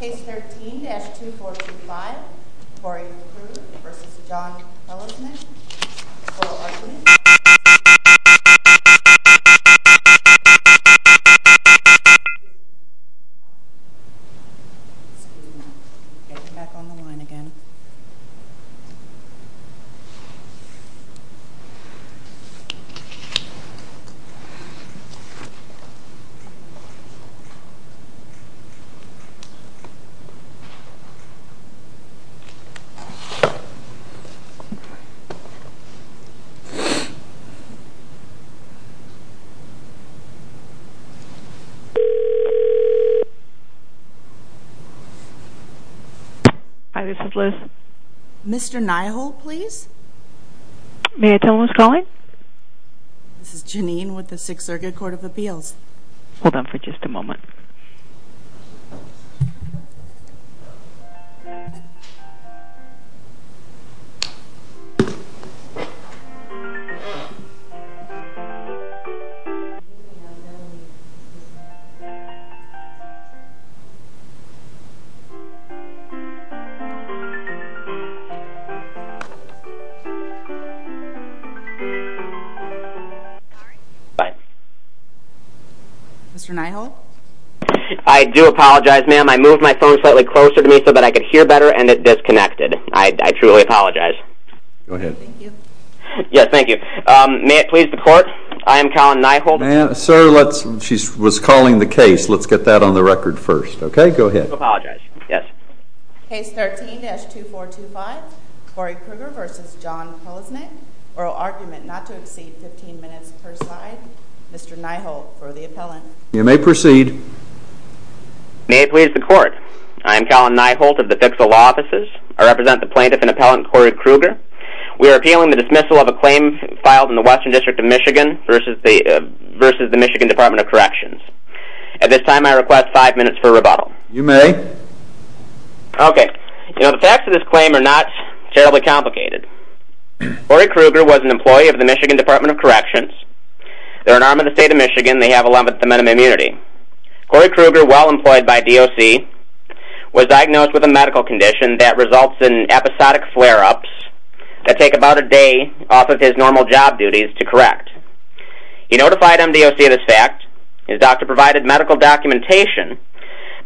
Case 13-2425 Corey Crugher v. John Prelesnik Excuse me, I'm getting back on the line again. Hi, this is Liz. Mr. Nyhol, please? May I tell who's calling? This is Janine with the Sixth Circuit Court of Appeals. Hold on for just a moment. Mr. Nyhol? I do apologize, ma'am. I moved my phone slightly closer to me so that I could hear better and it disconnected. I truly apologize. Go ahead. Thank you. Yes, thank you. May it please the court, I am Colin Nyhol. Ma'am, sir, she was calling the case. Let's get that on the record first. Okay, go ahead. I do apologize. Yes. Case 13-2425 Corey Crugher v. John Prelesnik. Oral argument not to exceed 15 minutes per side. Mr. Nyhol for the appellant. You may proceed. May it please the court, I am Colin Nyhol of the Fixal Law Offices. I represent the plaintiff and appellant Corey Crugher. We are appealing the dismissal of a claim filed in the Western District of Michigan versus the Michigan Department of Corrections. At this time, I request five minutes for rebuttal. You may. Okay. You know, the facts of this claim are not terribly complicated. Corey Crugher was an employee of the Michigan Department of Corrections. They're an arm of the state of Michigan. They have 11th Amendment immunity. Corey Crugher, while employed by DOC, was diagnosed with a medical condition that results in episodic flare-ups that take about a day off of his normal job duties to correct. He notified MDOC of this fact. His doctor provided medical documentation.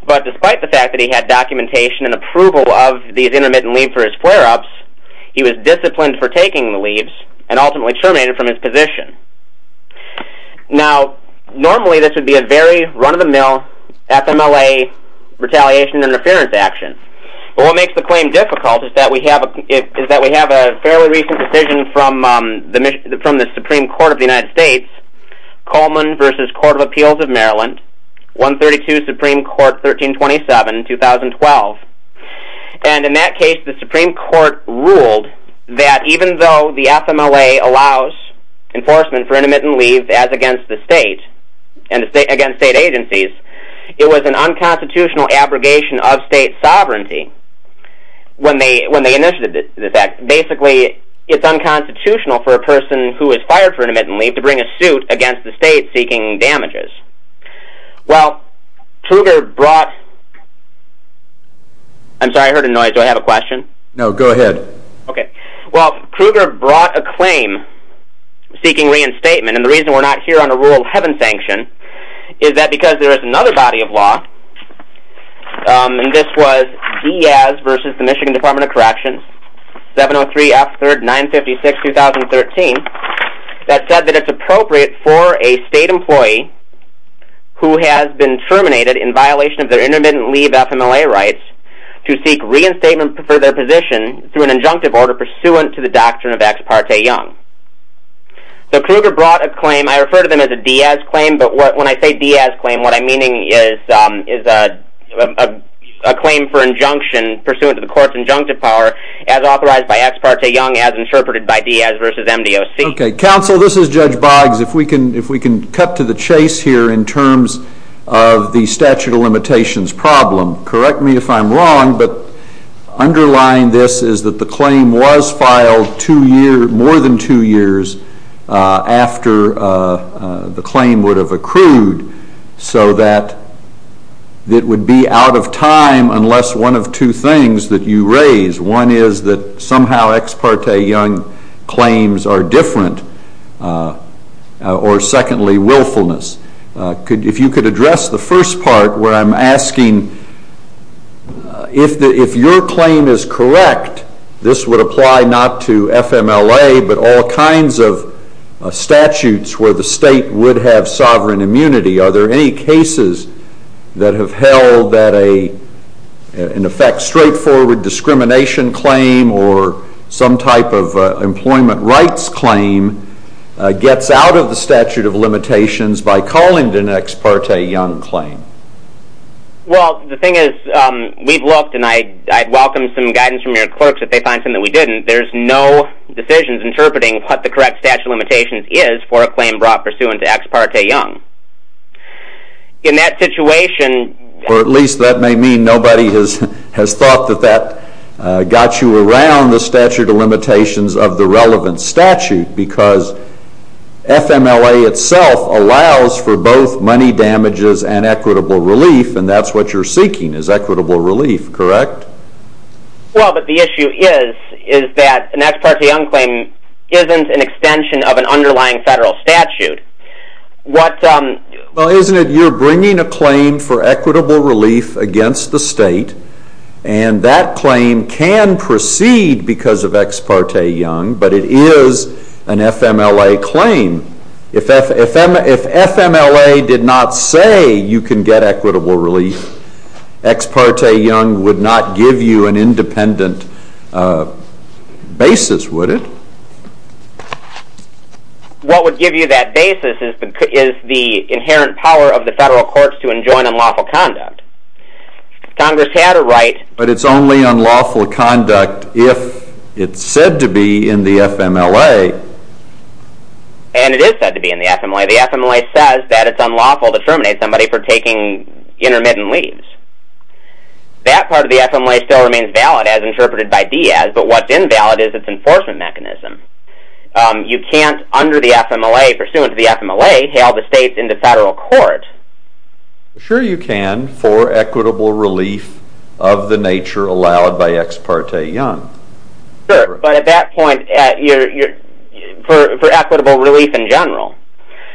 But despite the fact that he had documentation and approval of these intermittent leave for his flare-ups, he was disciplined for taking the leaves and ultimately terminated from his position. Now, normally this would be a very run-of-the-mill FMLA retaliation interference action. But what makes the claim difficult is that we have a fairly recent decision from the Supreme Court of the United States, Coleman v. Court of Appeals of Maryland, 132 Supreme Court 1327, 2012. And in that case, the Supreme Court ruled that even though the FMLA allows enforcement for intermittent leave as against the state and against state agencies, it was an unconstitutional abrogation of state sovereignty when they initiated this act. Basically, it's unconstitutional for a person who is fired for intermittent leave to bring a suit against the state seeking damages. Well, Crugher brought... I'm sorry, I heard a noise. Do I have a question? No, go ahead. Well, Crugher brought a claim seeking reinstatement, and the reason we're not here on a rule of heaven sanction is that because there is another body of law, and this was Diaz v. the Michigan Department of Corrections, 703-F-956-2013, that said that it's appropriate for a state employee who has been terminated in violation of their intermittent leave FMLA rights to seek reinstatement for their position through an injunctive order pursuant to the doctrine of Ex parte Young. So, Crugher brought a claim. I refer to them as a Diaz claim, but when I say Diaz claim, what I'm meaning is a claim for injunction pursuant to the court's injunctive power as authorized by Ex parte Young as interpreted by Diaz v. MDOC. Okay. Counsel, this is Judge Boggs. If we can cut to the chase here in terms of the statute of limitations problem, correct me if I'm wrong, but underlying this is that the claim was filed more than two years after the claim would have accrued, so that it would be out of time unless one of two things that you raise. One is that somehow Ex parte Young claims are different, or secondly, willfulness. If you could address the first part where I'm asking, if your claim is correct, this would apply not to FMLA, but all kinds of statutes where the state would have sovereign immunity. Are there any cases that have held that an, in effect, straightforward discrimination claim or some type of employment rights claim gets out of the statute of limitations by calling it an Ex parte Young claim? Well, the thing is, we've looked, and I'd welcome some guidance from your clerks if they find something that we didn't. There's no decisions interpreting what the correct statute of limitations is for a claim brought pursuant to Ex parte Young. In that situation... Or at least that may mean nobody has thought that that got you around the statute of limitations of the relevant statute, because FMLA itself allows for both money damages and equitable relief, and that's what you're seeking is equitable relief, correct? Well, but the issue is that an Ex parte Young claim isn't an extension of an underlying federal statute. Well, isn't it you're bringing a claim for equitable relief against the state, and that claim can proceed because of Ex parte Young, but it is an FMLA claim. If FMLA did not say you can get equitable relief, Ex parte Young would not give you an independent basis, would it? What would give you that basis is the inherent power of the federal courts to enjoin unlawful conduct. Congress had a right... But it's only unlawful conduct if it's said to be in the FMLA. And it is said to be in the FMLA. The FMLA says that it's unlawful to terminate somebody for taking intermittent leaves. That part of the FMLA still remains valid as interpreted by Diaz, but what's invalid is its enforcement mechanism. You can't, under the FMLA, pursuant to the FMLA, hail the states into federal court. Sure you can for equitable relief of the nature allowed by Ex parte Young. Sure, but at that point, for equitable relief in general.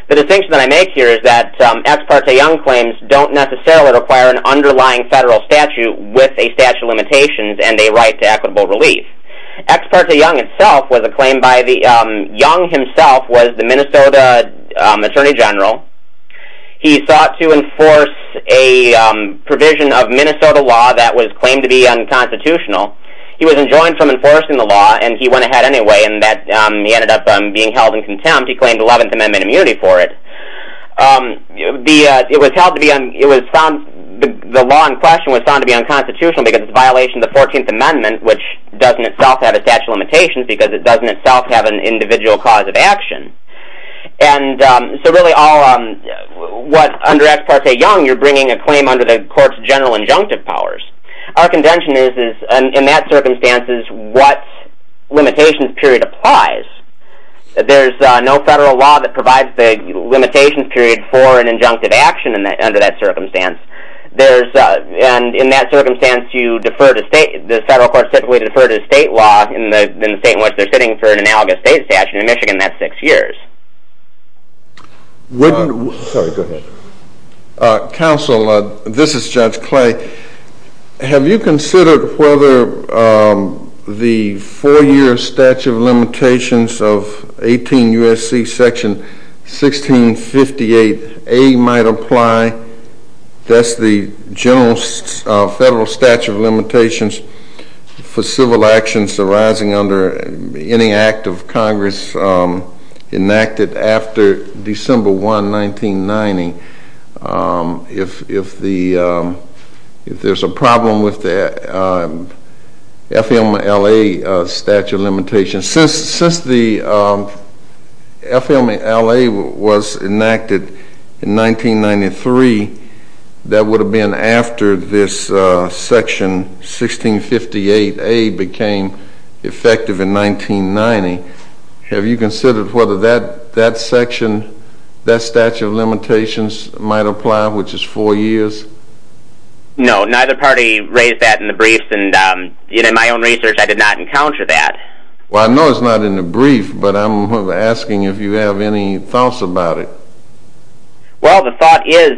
The distinction that I make here is that Ex parte Young claims don't necessarily require an underlying federal statute with a statute of limitations and a right to equitable relief. Ex parte Young itself was a claim by the... Young himself was the Minnesota Attorney General. He sought to enforce a provision of Minnesota law that was claimed to be unconstitutional. He was enjoined from enforcing the law, and he went ahead anyway, and he ended up being held in contempt. He claimed 11th Amendment immunity for it. It was held to be... The law in question was found to be unconstitutional because it's a violation of the 14th Amendment, which doesn't itself have a statute of limitations because it doesn't itself have an individual cause of action. And so really all... Under Ex parte Young, you're bringing a claim under the court's general injunctive powers. Our contention is, in that circumstances, what limitations period applies. There's no federal law that provides the limitations period for an injunctive action under that circumstance. There's... And in that circumstance, you defer to state... The federal courts typically defer to state law in the state in which they're sitting for an analogous state statute. In Michigan, that's six years. Wouldn't... Sorry, go ahead. Counsel, this is Judge Clay. Have you considered whether the four-year statute of limitations of 18 U.S.C. section 1658A might apply? That's the general federal statute of limitations for civil actions arising under any act of Congress enacted after December 1, 1990. If the... If there's a problem with the FMLA statute of limitations... Since the FMLA was enacted in 1993, that would have been after this section 1658A became effective in 1990. Have you considered whether that section, that statute of limitations, might apply, which is four years? No, neither party raised that in the briefs, and in my own research, I did not encounter that. Well, I know it's not in the brief, but I'm asking if you have any thoughts about it. Well, the thought is...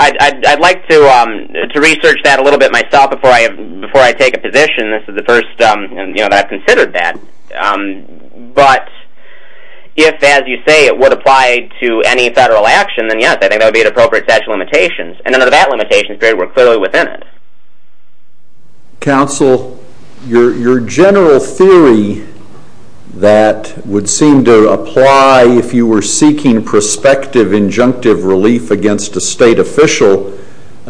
I'd like to research that a little bit myself before I take a position. This is the first that I've considered that. But if, as you say, it would apply to any federal action, then yes, I think that would be an appropriate statute of limitations, and under that limitations period, we're clearly within it. Counsel, your general theory that would seem to apply if you were seeking prospective injunctive relief against a state official,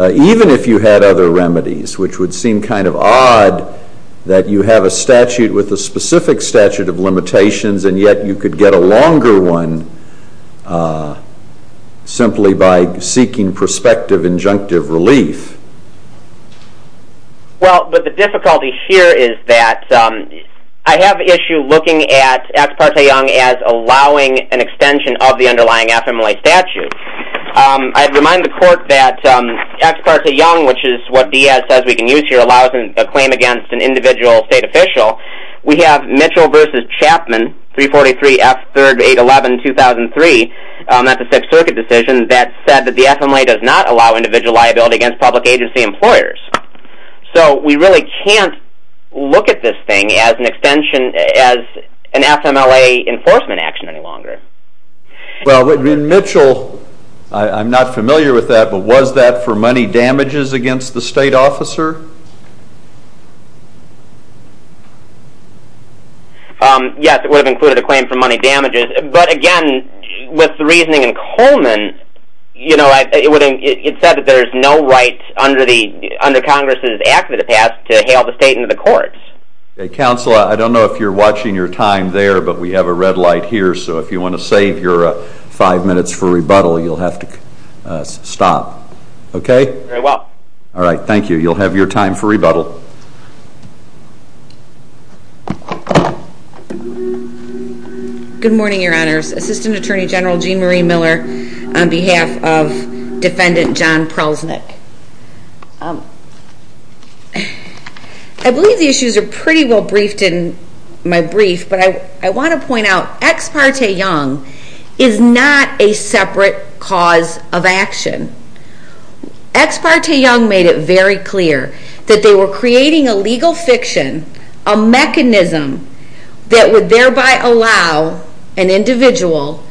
even if you had other remedies, which would seem kind of odd that you have a statute with a specific statute of limitations, and yet you could get a longer one simply by seeking prospective injunctive relief. Well, but the difficulty here is that I have an issue looking at Acts Parte Young as allowing an extension of the underlying FMLA statute. I'd remind the Court that Acts Parte Young, which is what Diaz says we can use here, allows a claim against an individual state official. We have Mitchell v. Chapman, 343 F. 3rd. 811. 2003, that's a Sixth Circuit decision, that said that the FMLA does not allow individual liability against public agency employers. So we really can't look at this thing as an extension, as an FMLA enforcement action any longer. Well, in Mitchell, I'm not familiar with that, but was that for money damages against the state officer? Yes, it would have included a claim for money damages. But again, with the reasoning in Coleman, it said that there's no right under Congress's Act of the past to hail the state into the courts. Okay, counsel, I don't know if you're watching your time there, but we have a red light here, so if you want to save your five minutes for rebuttal, you'll have to stop. Okay? Very well. All right, thank you. You'll have your time for rebuttal. Good morning, Your Honors. Assistant Attorney General Jean Marie Miller on behalf of Defendant John Prelznick. I believe the issues are pretty well briefed in my brief, but I want to point out, Ex parte Young is not a separate cause of action. Ex parte Young made it very clear that they were creating a legal fiction, a mechanism that would thereby allow an individual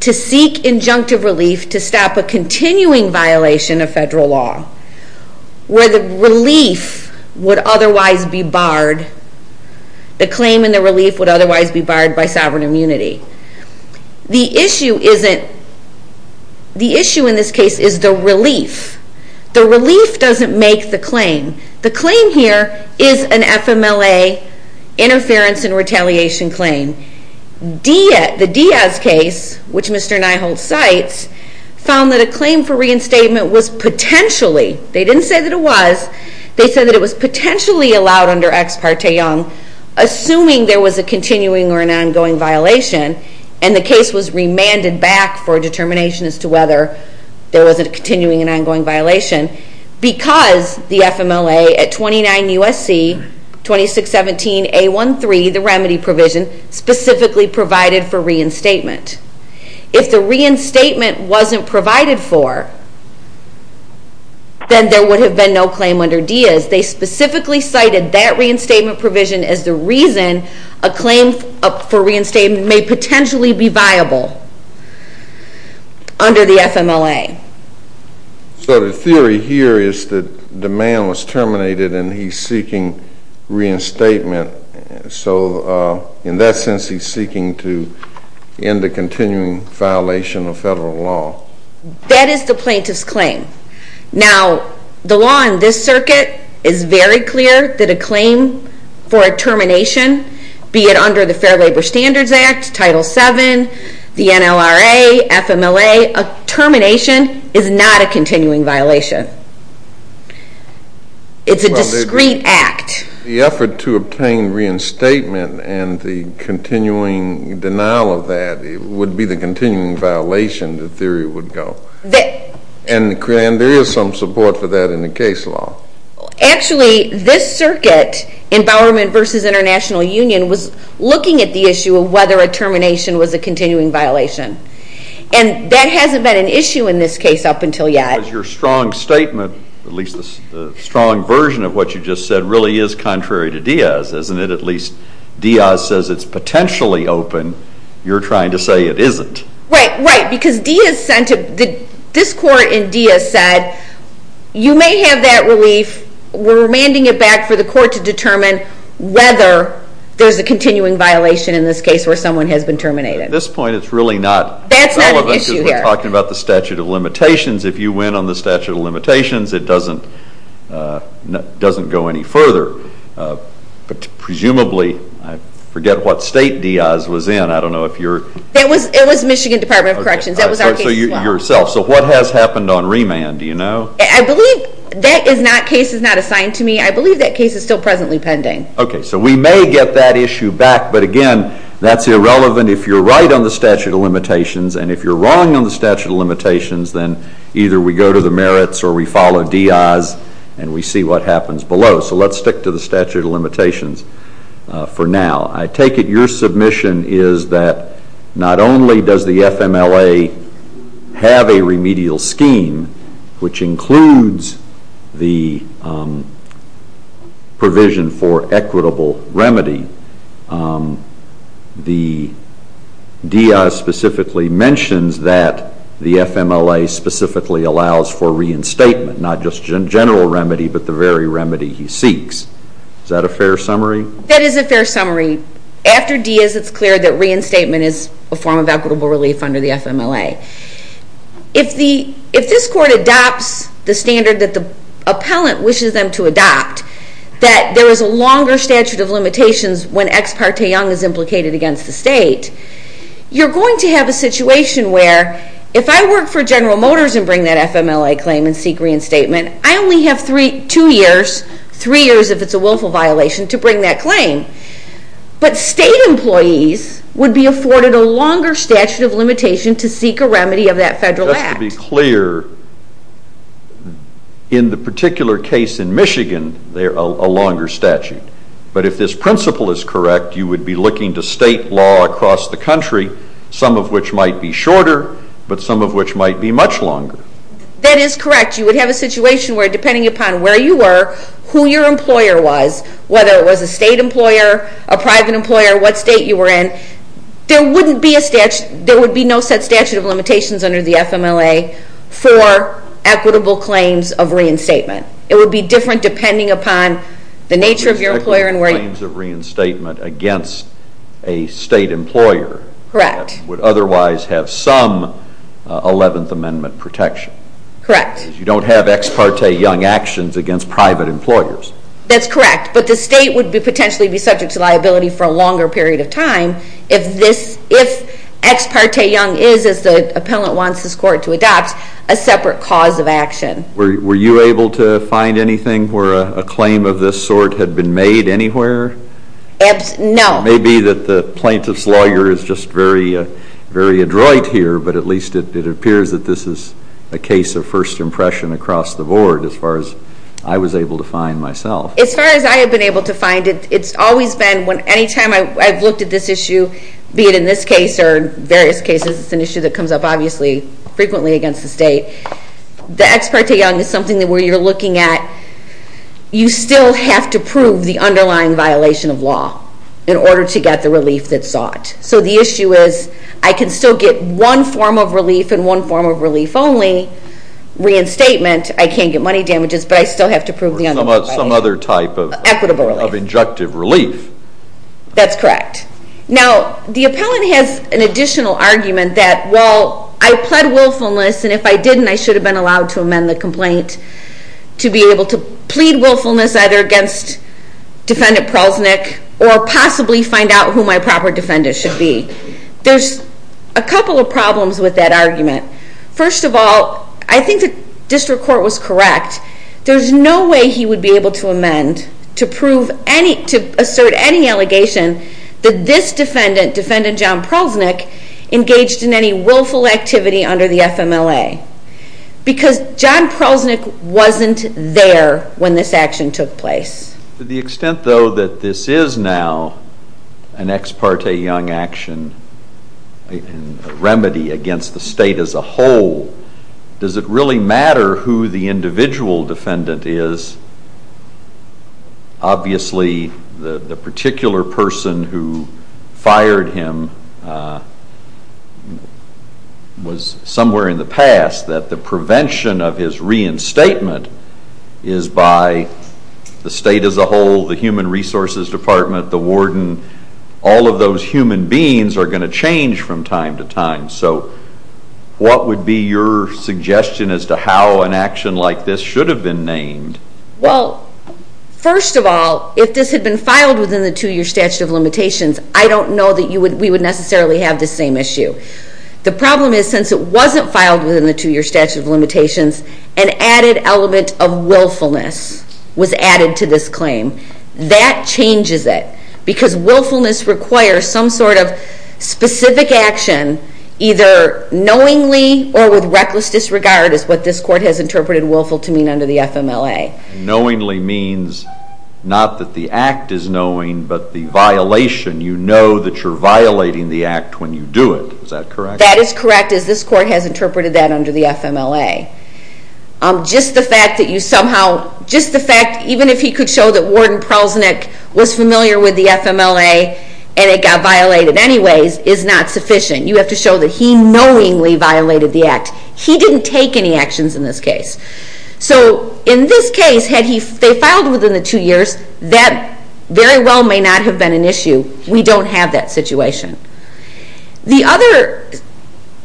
to seek injunctive relief to stop a continuing violation of federal law where the relief would otherwise be barred. The claim and the relief would otherwise be barred by sovereign immunity. The issue in this case is the relief. The relief doesn't make the claim. The claim here is an FMLA interference and retaliation claim. The Diaz case, which Mr. Niholtz cites, found that a claim for reinstatement was potentially, they didn't say that it was, they said that it was potentially allowed under Ex parte Young, assuming there was a continuing or an ongoing violation, and the case was remanded back for determination as to whether there was a continuing because the FMLA at 29 U.S.C. 2617A13, the remedy provision, specifically provided for reinstatement. If the reinstatement wasn't provided for, then there would have been no claim under Diaz. They specifically cited that reinstatement provision as the reason a claim for reinstatement may potentially be viable under the FMLA. So the theory here is that the man was terminated and he's seeking reinstatement. So in that sense, he's seeking to end the continuing violation of federal law. That is the plaintiff's claim. Now, the law in this circuit is very clear that a claim for a termination, be it under the Fair Labor Standards Act, Title VII, the NLRA, FMLA, a termination is not a continuing violation. It's a discrete act. The effort to obtain reinstatement and the continuing denial of that would be the continuing violation, the theory would go. And there is some support for that in the case law. Actually, this circuit in Bowerman v. International Union was looking at the issue of whether a termination was a continuing violation. And that hasn't been an issue in this case up until yet. Your strong statement, at least the strong version of what you just said, really is contrary to Diaz, isn't it? At least Diaz says it's potentially open. You're trying to say it isn't. Right, right, because this court in Diaz said, you may have that relief, we're remanding it back for the court to determine whether there's a continuing violation in this case where someone has been terminated. At this point, it's really not relevant because we're talking about the statute of limitations. If you win on the statute of limitations, it doesn't go any further. Presumably, I forget what state Diaz was in, I don't know if you're... It was Michigan Department of Corrections. So what has happened on remand, do you know? I believe that case is not assigned to me. I believe that case is still presently pending. Okay, so we may get that issue back. But again, that's irrelevant if you're right on the statute of limitations. And if you're wrong on the statute of limitations, then either we go to the merits or we follow Diaz and we see what happens below. So let's stick to the statute of limitations for now. I take it your submission is that not only does the FMLA have a remedial scheme, which includes the provision for equitable remedy, Diaz specifically mentions that the FMLA specifically allows for reinstatement, not just general remedy but the very remedy he seeks. Is that a fair summary? That is a fair summary. After Diaz, it's clear that reinstatement is a form of equitable relief under the FMLA. If this court adopts the standard that the appellant wishes them to adopt, that there is a longer statute of limitations when ex parte young is implicated against the state, you're going to have a situation where if I work for General Motors and bring that FMLA claim and seek reinstatement, I only have two years, three years if it's a willful violation, to bring that claim. But state employees would be afforded a longer statute of limitation to seek a remedy of that federal act. Just to be clear, in the particular case in Michigan, they're a longer statute. But if this principle is correct, you would be looking to state law across the country, some of which might be shorter but some of which might be much longer. That is correct. You would have a situation where depending upon where you were, who your employer was, whether it was a state employer, a private employer, what state you were in, there would be no set statute of limitations under the FMLA for equitable claims of reinstatement. It would be different depending upon the nature of your employer and where you were. It would be equitable claims of reinstatement against a state employer. Correct. That would otherwise have some 11th Amendment protection. Correct. You don't have ex parte young actions against private employers. That's correct. But the state would potentially be subject to liability for a longer period of time if ex parte young is, as the appellant wants this court to adopt, a separate cause of action. Were you able to find anything where a claim of this sort had been made anywhere? No. It may be that the plaintiff's lawyer is just very adroit here, but at least it appears that this is a case of first impression across the board as far as I was able to find myself. As far as I have been able to find it, it's always been anytime I've looked at this issue, be it in this case or various cases, it's an issue that comes up obviously frequently against the state. The ex parte young is something where you're looking at you still have to prove the underlying violation of law in order to get the relief that's sought. So the issue is I can still get one form of relief and one form of relief only. Reinstatement, I can't get money damages, but I still have to prove the underlying violation. Or some other type of injective relief. That's correct. Now, the appellant has an additional argument that, well, I pled willfulness, and if I didn't I should have been allowed to amend the complaint to be able to plead willfulness either against Defendant Prausnick or possibly find out who my proper defendant should be. There's a couple of problems with that argument. First of all, I think the district court was correct. There's no way he would be able to amend to prove any, to assert any allegation that this defendant, Defendant John Prausnick, engaged in any willful activity under the FMLA. Because John Prausnick wasn't there when this action took place. To the extent, though, that this is now an ex parte young action, a remedy against the state as a whole, does it really matter who the individual defendant is? Obviously, the particular person who fired him was somewhere in the past that the prevention of his reinstatement is by the state as a whole, the Human Resources Department, the warden, all of those human beings are going to change from time to time. So what would be your suggestion as to how an action like this should have been named? Well, first of all, if this had been filed within the 2-year statute of limitations, I don't know that we would necessarily have this same issue. The problem is since it wasn't filed within the 2-year statute of limitations, an added element of willfulness was added to this claim. That changes it, because willfulness requires some sort of specific action, either knowingly or with reckless disregard, is what this court has interpreted willful to mean under the FMLA. Knowingly means not that the act is knowing, but the violation. You know that you're violating the act when you do it. Is that correct? That is correct, as this court has interpreted that under the FMLA. Just the fact that you somehow, just the fact, even if he could show that Warden Prelznick was familiar with the FMLA and it got violated anyways, is not sufficient. You have to show that he knowingly violated the act. He didn't take any actions in this case. So in this case, had they filed within the 2 years, that very well may not have been an issue. We don't have that situation. The other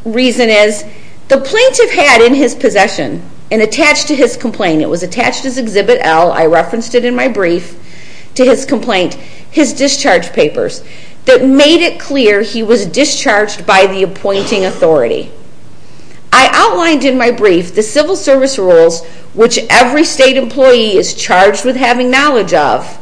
reason is, the plaintiff had in his possession, and attached to his complaint, it was attached as Exhibit L, I referenced it in my brief, to his complaint, his discharge papers, that made it clear he was discharged by the appointing authority. I outlined in my brief the civil service rules, which every state employee is charged with having knowledge of,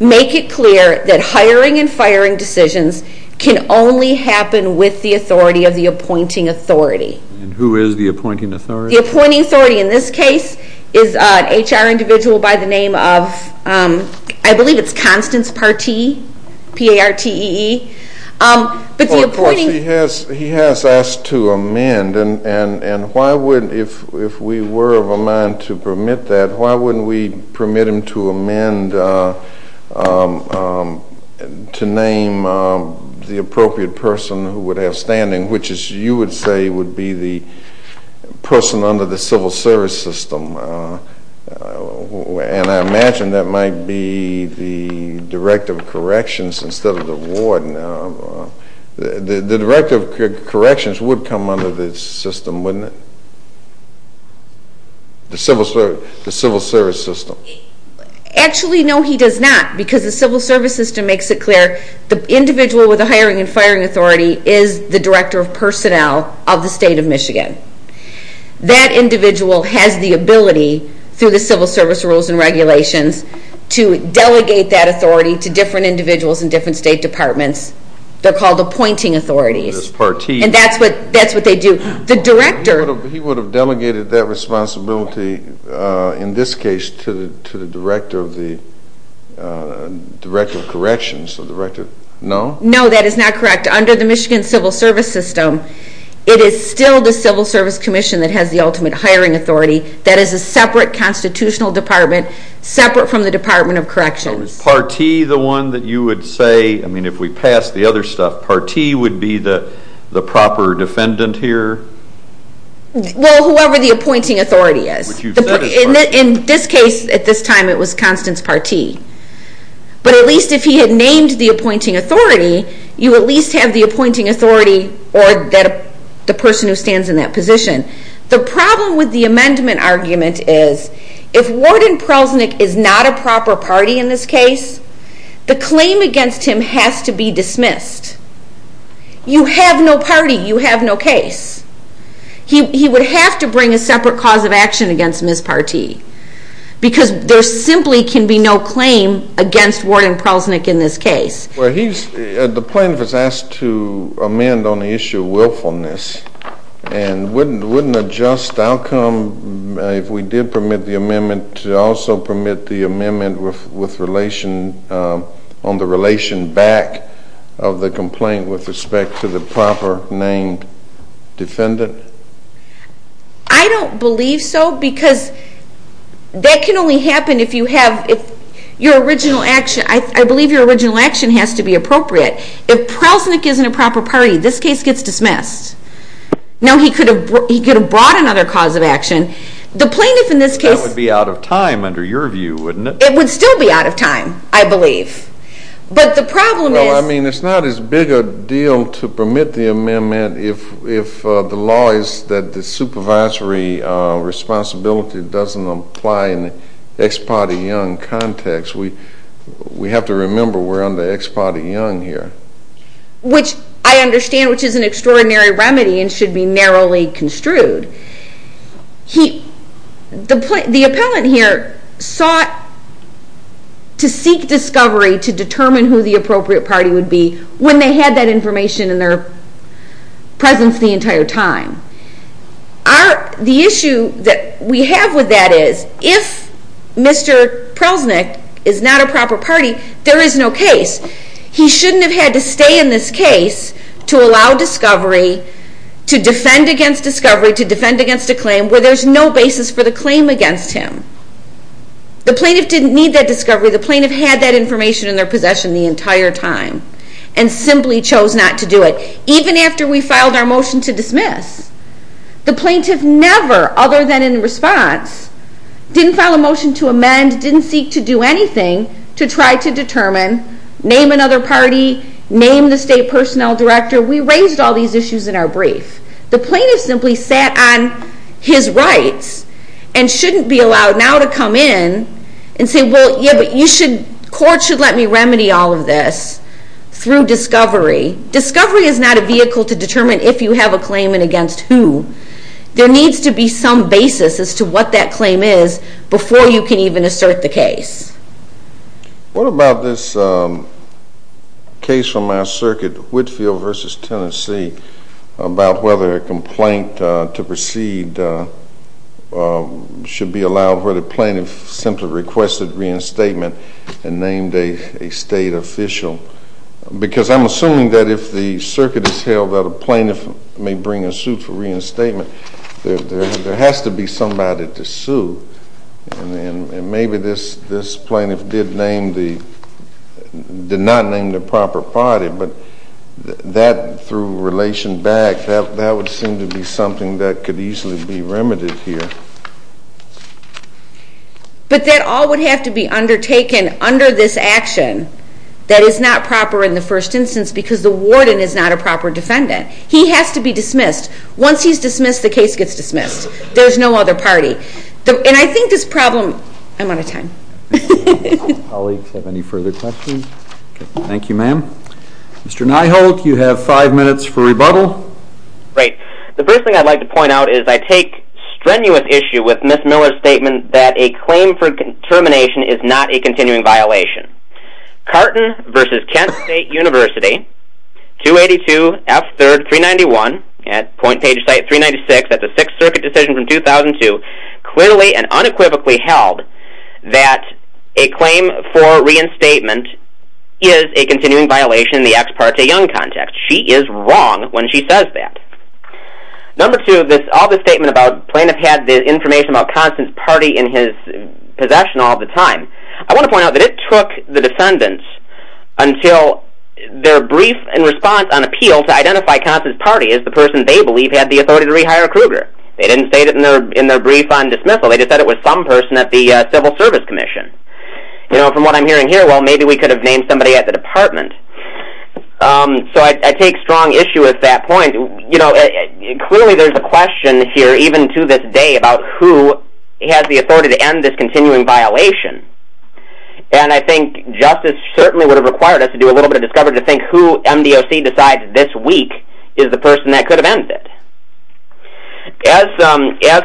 make it clear that hiring and firing decisions can only happen with the authority of the appointing authority. And who is the appointing authority? The appointing authority in this case is an HR individual by the name of, I believe it's Constance Partee, P-A-R-T-E-E. Of course, he has asked to amend, and why wouldn't, if we were of a mind to permit that, why wouldn't we permit him to amend to name the appropriate person who would have standing, which, as you would say, would be the person under the civil service system. And I imagine that might be the Director of Corrections instead of the Warden. The Director of Corrections would come under this system, wouldn't it? The civil service system. Actually, no, he does not because the civil service system makes it clear the individual with the hiring and firing authority is the Director of Personnel of the State of Michigan. That individual has the ability, through the civil service rules and regulations, to delegate that authority to different individuals in different state departments. They're called appointing authorities. And that's what they do. He would have delegated that responsibility, in this case, to the Director of Corrections. No? No, that is not correct. Under the Michigan civil service system, it is still the civil service commission that has the ultimate hiring authority. That is a separate constitutional department, separate from the Department of Corrections. Is Partee the one that you would say, if we pass the other stuff, Partee would be the proper defendant here? Well, whoever the appointing authority is. In this case, at this time, it was Constance Partee. But at least if he had named the appointing authority, you at least have the appointing authority or the person who stands in that position. The problem with the amendment argument is if Warden Prelznick is not a proper party in this case, the claim against him has to be dismissed. You have no party, you have no case. He would have to bring a separate cause of action against Ms. Partee because there simply can be no claim against Warden Prelznick in this case. The plaintiff is asked to amend on the issue of willfulness and wouldn't a just outcome, if we did permit the amendment, to also permit the amendment on the relation back of the complaint with respect to the proper named defendant? I don't believe so because that can only happen if you have your original action. I believe your original action has to be appropriate. If Prelznick isn't a proper party, this case gets dismissed. Now, he could have brought another cause of action. The plaintiff in this case... That would be out of time under your view, wouldn't it? It would still be out of time, I believe. But the problem is... Well, I mean, it's not as big a deal to permit the amendment if the law is that the supervisory responsibility doesn't apply in the Ex parte Young context. We have to remember we're under Ex parte Young here. Which I understand, which is an extraordinary remedy and should be narrowly construed. The appellant here sought to seek discovery to determine who the appropriate party would be when they had that information in their presence the entire time. The issue that we have with that is if Mr. Prelznick is not a proper party, there is no case. He shouldn't have had to stay in this case to allow discovery, to defend against discovery, to defend against a claim where there's no basis for the claim against him. The plaintiff didn't need that discovery. The plaintiff had that information in their possession the entire time and simply chose not to do it, even after we filed our motion to dismiss. The plaintiff never, other than in response, didn't file a motion to amend, didn't seek to do anything to try to determine, name another party, name the state personnel director. We raised all these issues in our brief. The plaintiff simply sat on his rights and shouldn't be allowed now to come in and say, well, yeah, but you should, court should let me remedy all of this through discovery. Discovery is not a vehicle to determine if you have a claim and against who. There needs to be some basis as to what that claim is before you can even assert the case. What about this case from our circuit, Whitfield v. Tennessee, about whether a complaint to proceed should be allowed where the plaintiff simply requested reinstatement and named a state official? Because I'm assuming that if the circuit is held that a plaintiff may bring a suit for reinstatement, there has to be somebody to sue. And maybe this plaintiff did not name the proper party, but that, through relation back, that would seem to be something that could easily be remedied here. But that all would have to be undertaken under this action that is not proper in the first instance because the warden is not a proper defendant. He has to be dismissed. Once he's dismissed, the case gets dismissed. There's no other party. And I think this problem... I'm out of time. Colleagues have any further questions? Thank you, ma'am. Mr. Nyholt, you have five minutes for rebuttal. Great. The first thing I'd like to point out is I take strenuous issue with Ms. Miller's statement that a claim for termination is not a continuing violation. Carton v. Kent State University, 282 F. 3rd, 391, at point page site 396, that's a Sixth Circuit decision from 2002, clearly and unequivocally held that a claim for reinstatement is a continuing violation in the ex parte young context. She is wrong when she says that. Number two, all this statement about the plaintiff had the information about Constance's party in his possession all the time. I want to point out that it took the defendants until their brief and response on appeal to identify Constance's party as the person they believe had the authority to rehire Kruger. They didn't state it in their brief on dismissal. They just said it was some person at the Civil Service Commission. From what I'm hearing here, well, maybe we could have named somebody at the department. So I take strong issue with that point. Clearly there's a question here, even to this day, about who has the authority to end this continuing violation. And I think justice certainly would have required us to do a little bit of discovery in order to think who MDOC decides this week is the person that could have ended it. As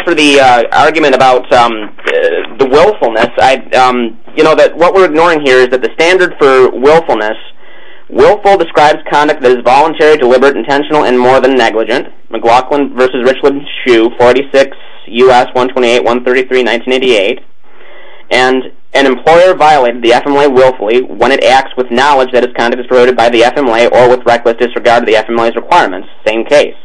for the argument about the willfulness, what we're ignoring here is that the standard for willfulness, willful describes conduct that is voluntary, deliberate, intentional, and more than negligent, McLaughlin v. Richland Shue, 46 U.S. 128-133, 1988, and an employer violated the FMLA willfully when it acts with knowledge that its conduct is prorogated by the FMLA or with reckless disregard of the FMLA's requirements. Same case.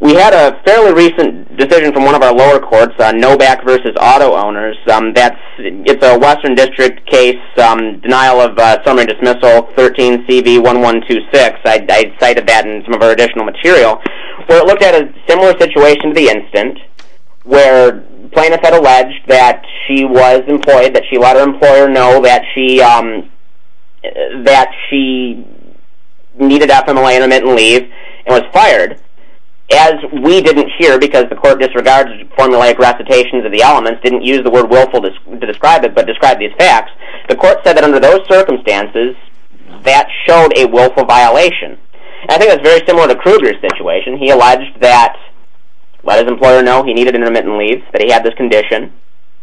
We had a fairly recent decision from one of our lower courts, Novak v. Auto Owners. It's a Western District case, denial of summary dismissal 13CV1126. I cited that in some of our additional material. So it looked at a similar situation to the incident where plaintiff had alleged that she was employed, that she let her employer know that she needed FMLA intermittent leave and was fired. As we didn't hear because the court disregarded formulaic recitations of the elements, didn't use the word willful to describe it, but described these facts, the court said that under those circumstances that showed a willful violation. I think that's very similar to Kruger's situation. He alleged that he let his employer know he needed intermittent leave, that he had this condition,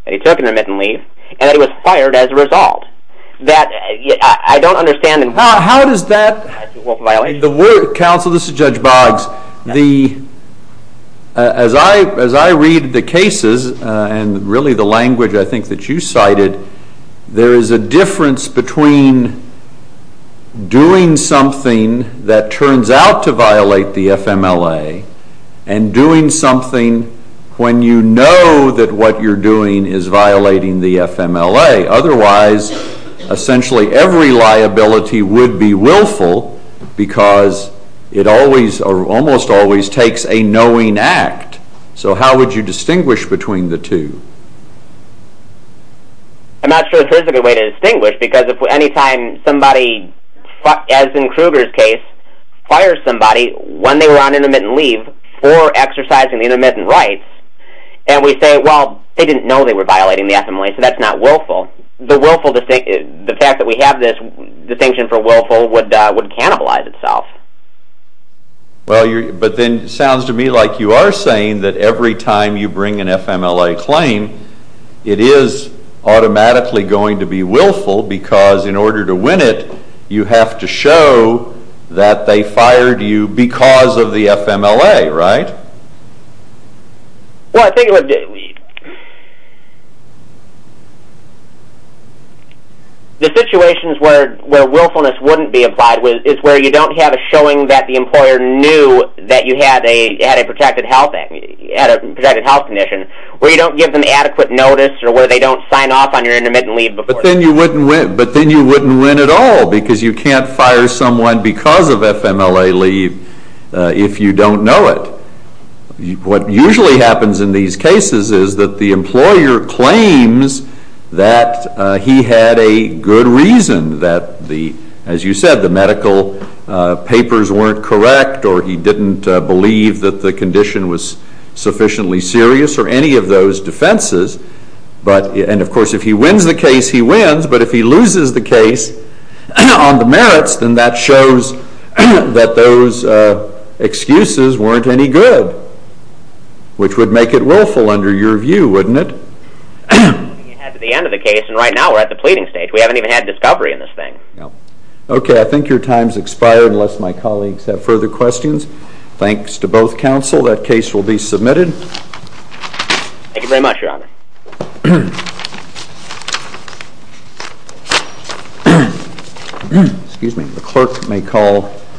that he took intermittent leave, and that he was fired as a result. I don't understand... How does that... Counsel, this is Judge Boggs. As I read the cases, and really the language I think that you cited, there is a difference between doing something that turns out to violate the FMLA and doing something when you know that what you're doing is violating the FMLA. Otherwise, essentially every liability would be willful because it almost always takes a knowing act. So how would you distinguish between the two? I'm not sure there's a good way to distinguish because any time somebody, as in Kruger's case, fires somebody when they were on intermittent leave for exercising the intermittent rights, and we say, well, they didn't know they were violating the FMLA, so that's not willful, the fact that we have this distinction for willful would cannibalize itself. But then it sounds to me like you are saying that every time you bring an FMLA claim, it is automatically going to be willful because in order to win it, you have to show that they fired you because of the FMLA, right? The situations where willfulness wouldn't be applied is where you don't have a showing that the employer knew that you had a protected health condition, where you don't give them adequate notice or where they don't sign off on your intermittent leave. But then you wouldn't win at all because you can't fire someone because of FMLA leave if you don't know it. What usually happens in these cases is that the employer claims that he had a good reason, that, as you said, the medical papers weren't correct or he didn't believe that the condition was sufficiently serious or any of those defenses. And, of course, if he wins the case, he wins. But if he loses the case on the merits, then that shows that those excuses weren't any good, which would make it willful under your view, wouldn't it? ...at the end of the case, and right now we're at the pleading stage. We haven't even had discovery in this thing. Okay, I think your time has expired Thanks to both counsel. That case will be submitted. Thank you very much, Your Honor.